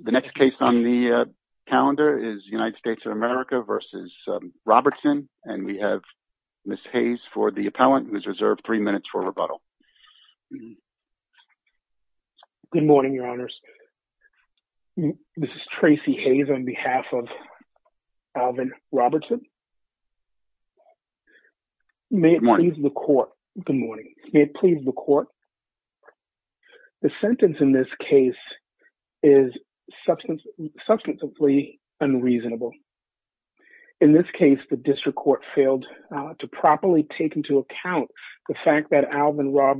The next case on the calendar is United States of America v. Robertson, and we have Ms. Hayes for the appellant, who is reserved three minutes for rebuttal. Good morning, Your Honors. This is Tracy Hayes on behalf of Alvin Robertson. Good morning. May it please the court. The sentence in this case is substantively unreasonable. In this case, the district court failed to properly take into account the fact that Alvin was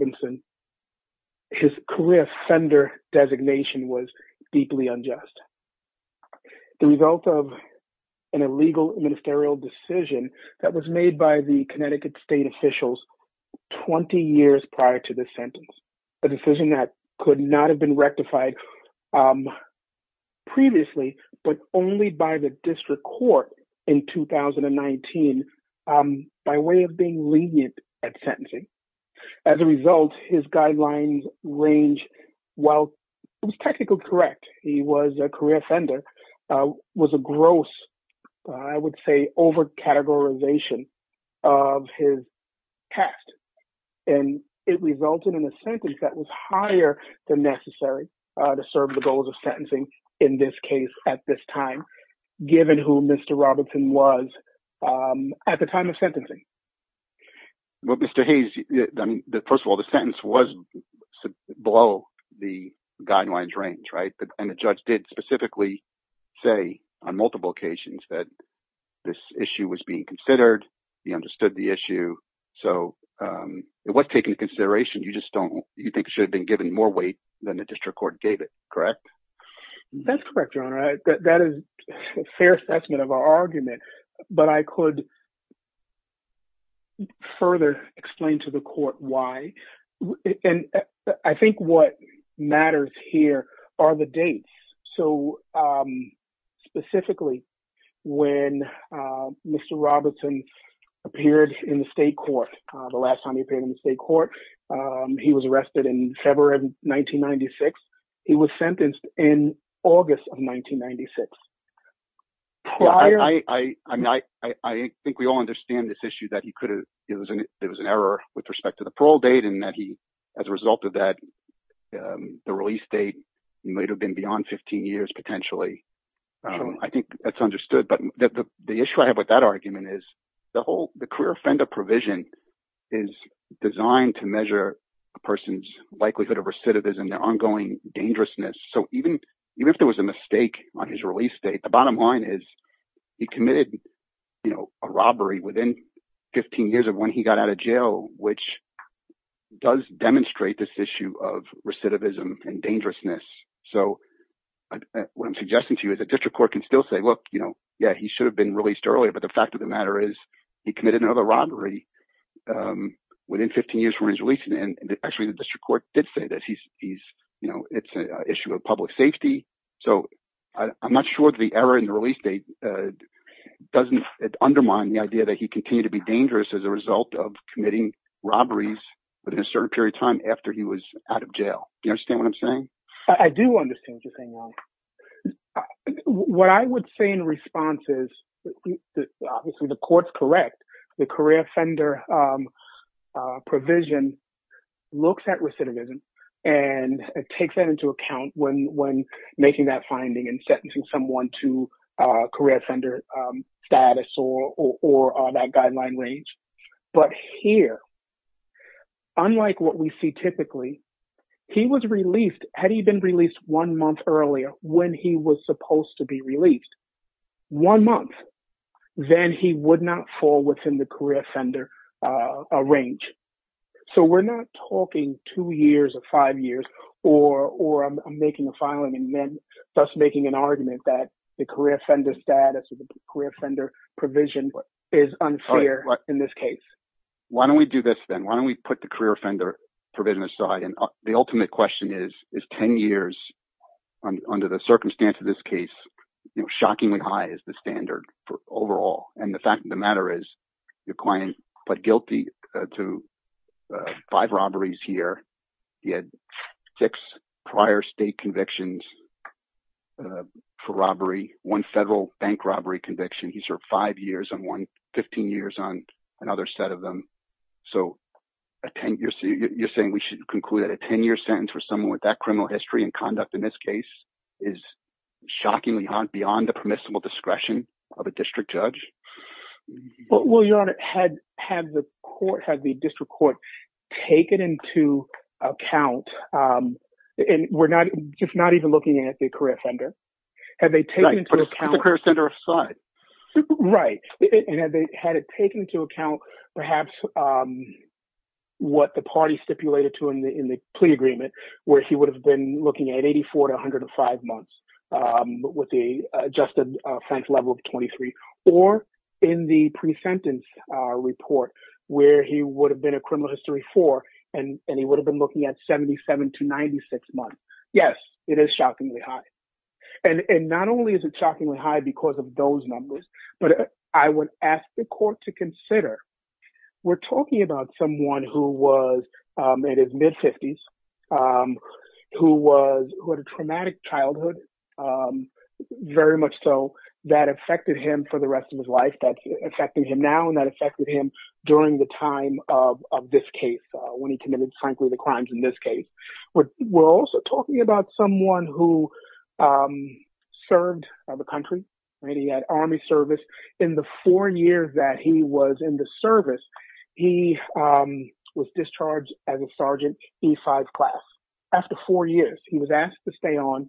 made by the Connecticut state officials 20 years prior to the sentence, a decision that could not have been rectified previously, but only by the district court in 2019 by way of being lenient at sentencing. As a result, his guidelines range, while it was technically correct he was a career offender, was a gross, I would say, over-categorization of his past, and it resulted in a sentence that was higher than necessary to serve the goals of sentencing in this case at this time, given who Mr. Robertson was at the time of sentencing. Well, Mr. Hayes, first of all, the sentence was below the guidelines range, right? And the judge did specifically say on multiple occasions that this issue was being considered, he understood the issue, so it was taken into consideration. You just don't, you think it should have been given more weight than the district court gave it, correct? That's correct, Your Honor. That is fair assessment of our argument, but I could further explain to the court why. And I think what matters here are the dates. So, specifically, when Mr. Robertson appeared in the state court, the last time he appeared in the state court, he was arrested in February of 1996. He was sentenced in August of 1996. I think we all understand this issue that he could have, it was an error with respect to the parole date, and that he, as a result of that, the release date might have been beyond 15 years, potentially. I think that's understood, but the issue I have with that argument is the whole, the career offender provision is designed to measure a person's likelihood of recidivism, their ongoing dangerousness. So, even if there was a mistake on his release date, the bottom line is he committed a robbery within 15 years of when he got out of jail, which does demonstrate this issue of recidivism and dangerousness. So, what I'm suggesting to you is the district court can still say, look, yeah, he should have been released earlier, but the fact of the matter is he committed another robbery within 15 years from his release, and actually the district court did say that he's, you know, it's an issue of public safety. So, I'm not sure that the error in the release date doesn't undermine the idea that he continued to be dangerous as a result of committing robberies within a certain period of time after he was out of jail. Do you understand what I'm saying? I do understand what you're saying, Ron. What I would say in response is, obviously, the court's correct. The career offender provision looks at recidivism and takes that into account when making that finding and sentencing someone to career offender status or that guideline range. But here, unlike what we see typically, he was released, had he been released one month earlier when he was supposed to be released, one month, then he would not fall within the career offender range. So, we're not talking two years or five years or making a filing and then thus making an argument that the career offender status or the career offender provision is unfair in this case. Why don't we do this then? Why don't we put the career offender provision aside, and the ultimate question is, is 10 years, under the circumstance of this case, shockingly high as the standard for overall. And the fact of the matter is, your client pled guilty to five robberies here. He had six prior state convictions for robbery, one federal bank robbery conviction. He served five years on one, 15 years on another set of them. So, a 10-year, you're saying we should conclude that a 10-year sentence for someone with that criminal history and conduct in this case is shockingly beyond the permissible discretion of a district judge? Well, your honor, had the court, had the district court taken into account, and we're not, if not even looking at the career offender, have they taken into account... Right, put the career offender aside. Right. And had they had it taken into account, perhaps what the party stipulated to in the plea agreement, where he would have been looking at 84 to 105 months with the adjusted offense level of 23, or in the pre-sentence report, where he would have been a criminal history four, and he would have been looking at 77 to 96 months. Yes, it is shockingly high. And not only is it but I would ask the court to consider, we're talking about someone who was in his mid-50s, who had a traumatic childhood, very much so, that affected him for the rest of his life. That's affecting him now, and that affected him during the time of this case, when he committed, frankly, the crimes in this case. But we're also talking about someone who served the country. He had army service. In the four years that he was in the service, he was discharged as a Sergeant E5 class. After four years, he was asked to stay on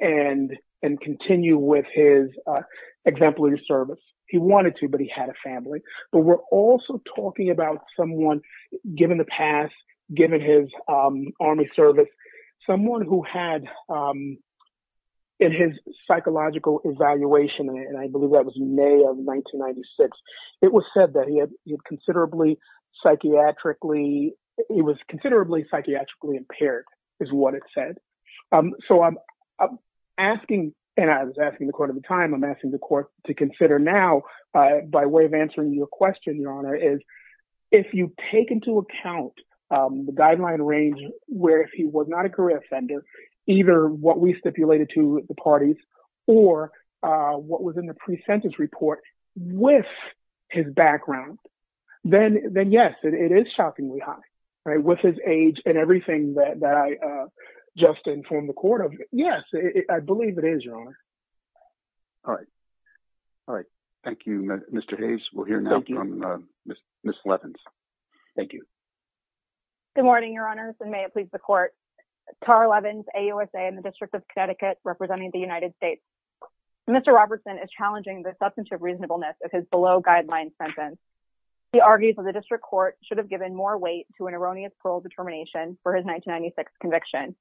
and continue with his exemplary service. He wanted to, but he had a family. But we're also talking about someone, given the past, given his army service, someone who had, in his psychological evaluation, and I believe that was in May of 1996, it was said that he was considerably psychiatrically impaired, is what it said. So I'm asking, and I was asking the court at the time, I'm asking the court to consider now by way of answering your question, is if you take into account the guideline range, where if he was not a career offender, either what we stipulated to the parties, or what was in the pre-sentence report, with his background, then yes, it is shockingly high. With his age and everything that I just informed the court of, yes, I believe it is, Your Honor. All right. All right. Thank you, Mr. Hayes. We'll hear now from Ms. Levins. Thank you. Good morning, Your Honors, and may it please the court. Tara Levins, AUSA in the District of Connecticut, representing the United States. Mr. Robertson is challenging the substantive reasonableness of his below-guideline sentence. He argues that the district court should have given more weight to an erroneous parole determination for his 1996 conviction.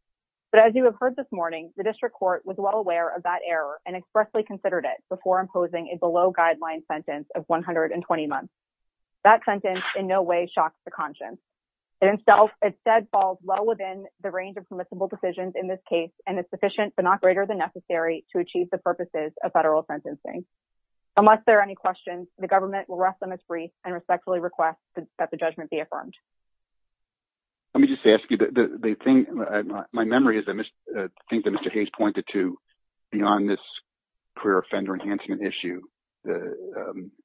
But as you have heard this morning, the district court was well aware of that error and expressly considered it before imposing a below-guideline sentence of 120 months. That sentence in no way shocks the conscience. It instead falls well within the range of permissible decisions in this case, and it's sufficient but not greater than necessary to achieve the purposes of federal sentencing. Unless there are any questions, the government will rest them as brief and respectfully request that the judgment be affirmed. Let me just ask you, the thing, my memory is, I think that Mr. Hayes pointed to, beyond this career offender enhancement issue, the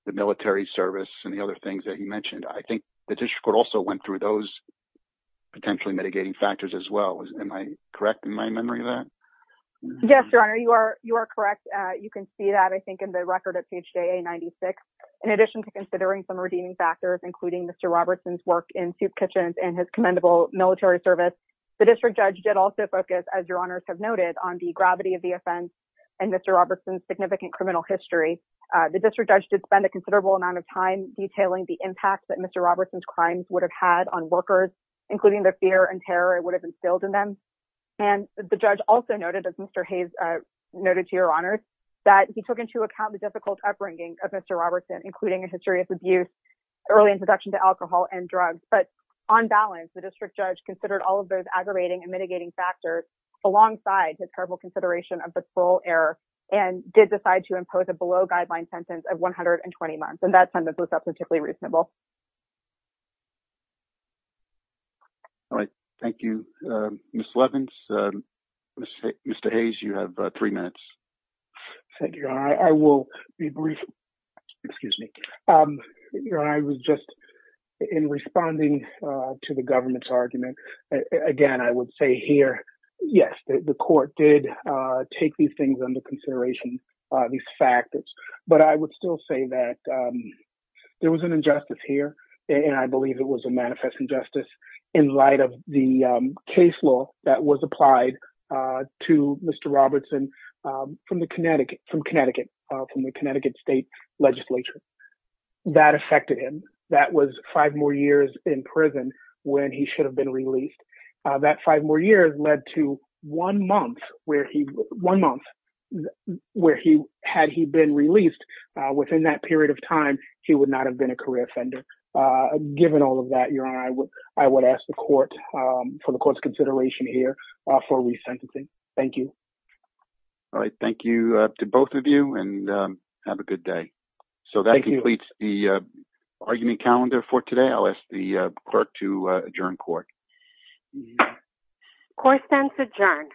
military service and the other things that you mentioned, I think the district court also went through those potentially mitigating factors as well. Am I correct in my memory of that? Yes, Your Honor, you are correct. You can see that, I think, in the record of PHA 96. In addition to considering some redeeming factors, including Mr. Robertson's work in service, the district judge did also focus, as Your Honors have noted, on the gravity of the offense and Mr. Robertson's significant criminal history. The district judge did spend a considerable amount of time detailing the impact that Mr. Robertson's crimes would have had on workers, including the fear and terror it would have instilled in them. And the judge also noted, as Mr. Hayes noted to Your Honors, that he took into account the difficult upbringing of Mr. Robertson, including a history of abuse, early introduction to alcohol and drugs. But on balance, the district judge considered all of those aggravating and mitigating factors, alongside his careful consideration of the parole error, and did decide to impose a below-guideline sentence of 120 months. And that sentence was not particularly reasonable. All right. Thank you, Ms. Levins. Mr. Hayes, you have three minutes. Thank you, Your Honor. I will be brief. Excuse me. Your Honor, I was just in responding to the government's argument. Again, I would say here, yes, the court did take these things under consideration, these factors. But I would still say that there was an injustice here, and I believe it was a manifest injustice, in light of the case law that was applied to Mr. Robertson from Connecticut, from the Connecticut State Legislature. That affected him. That was five more years in prison when he should have been released. That five more years led to one month where, had he been released within that period of time, he would not have been a career offender, given all of that. Your Honor, I would ask the court for the court's consideration here for resentencing. Thank you. All right. Thank you to both of you, and have a good day. So that completes the argument calendar for today. I'll ask the clerk to adjourn court. Court stands adjourned.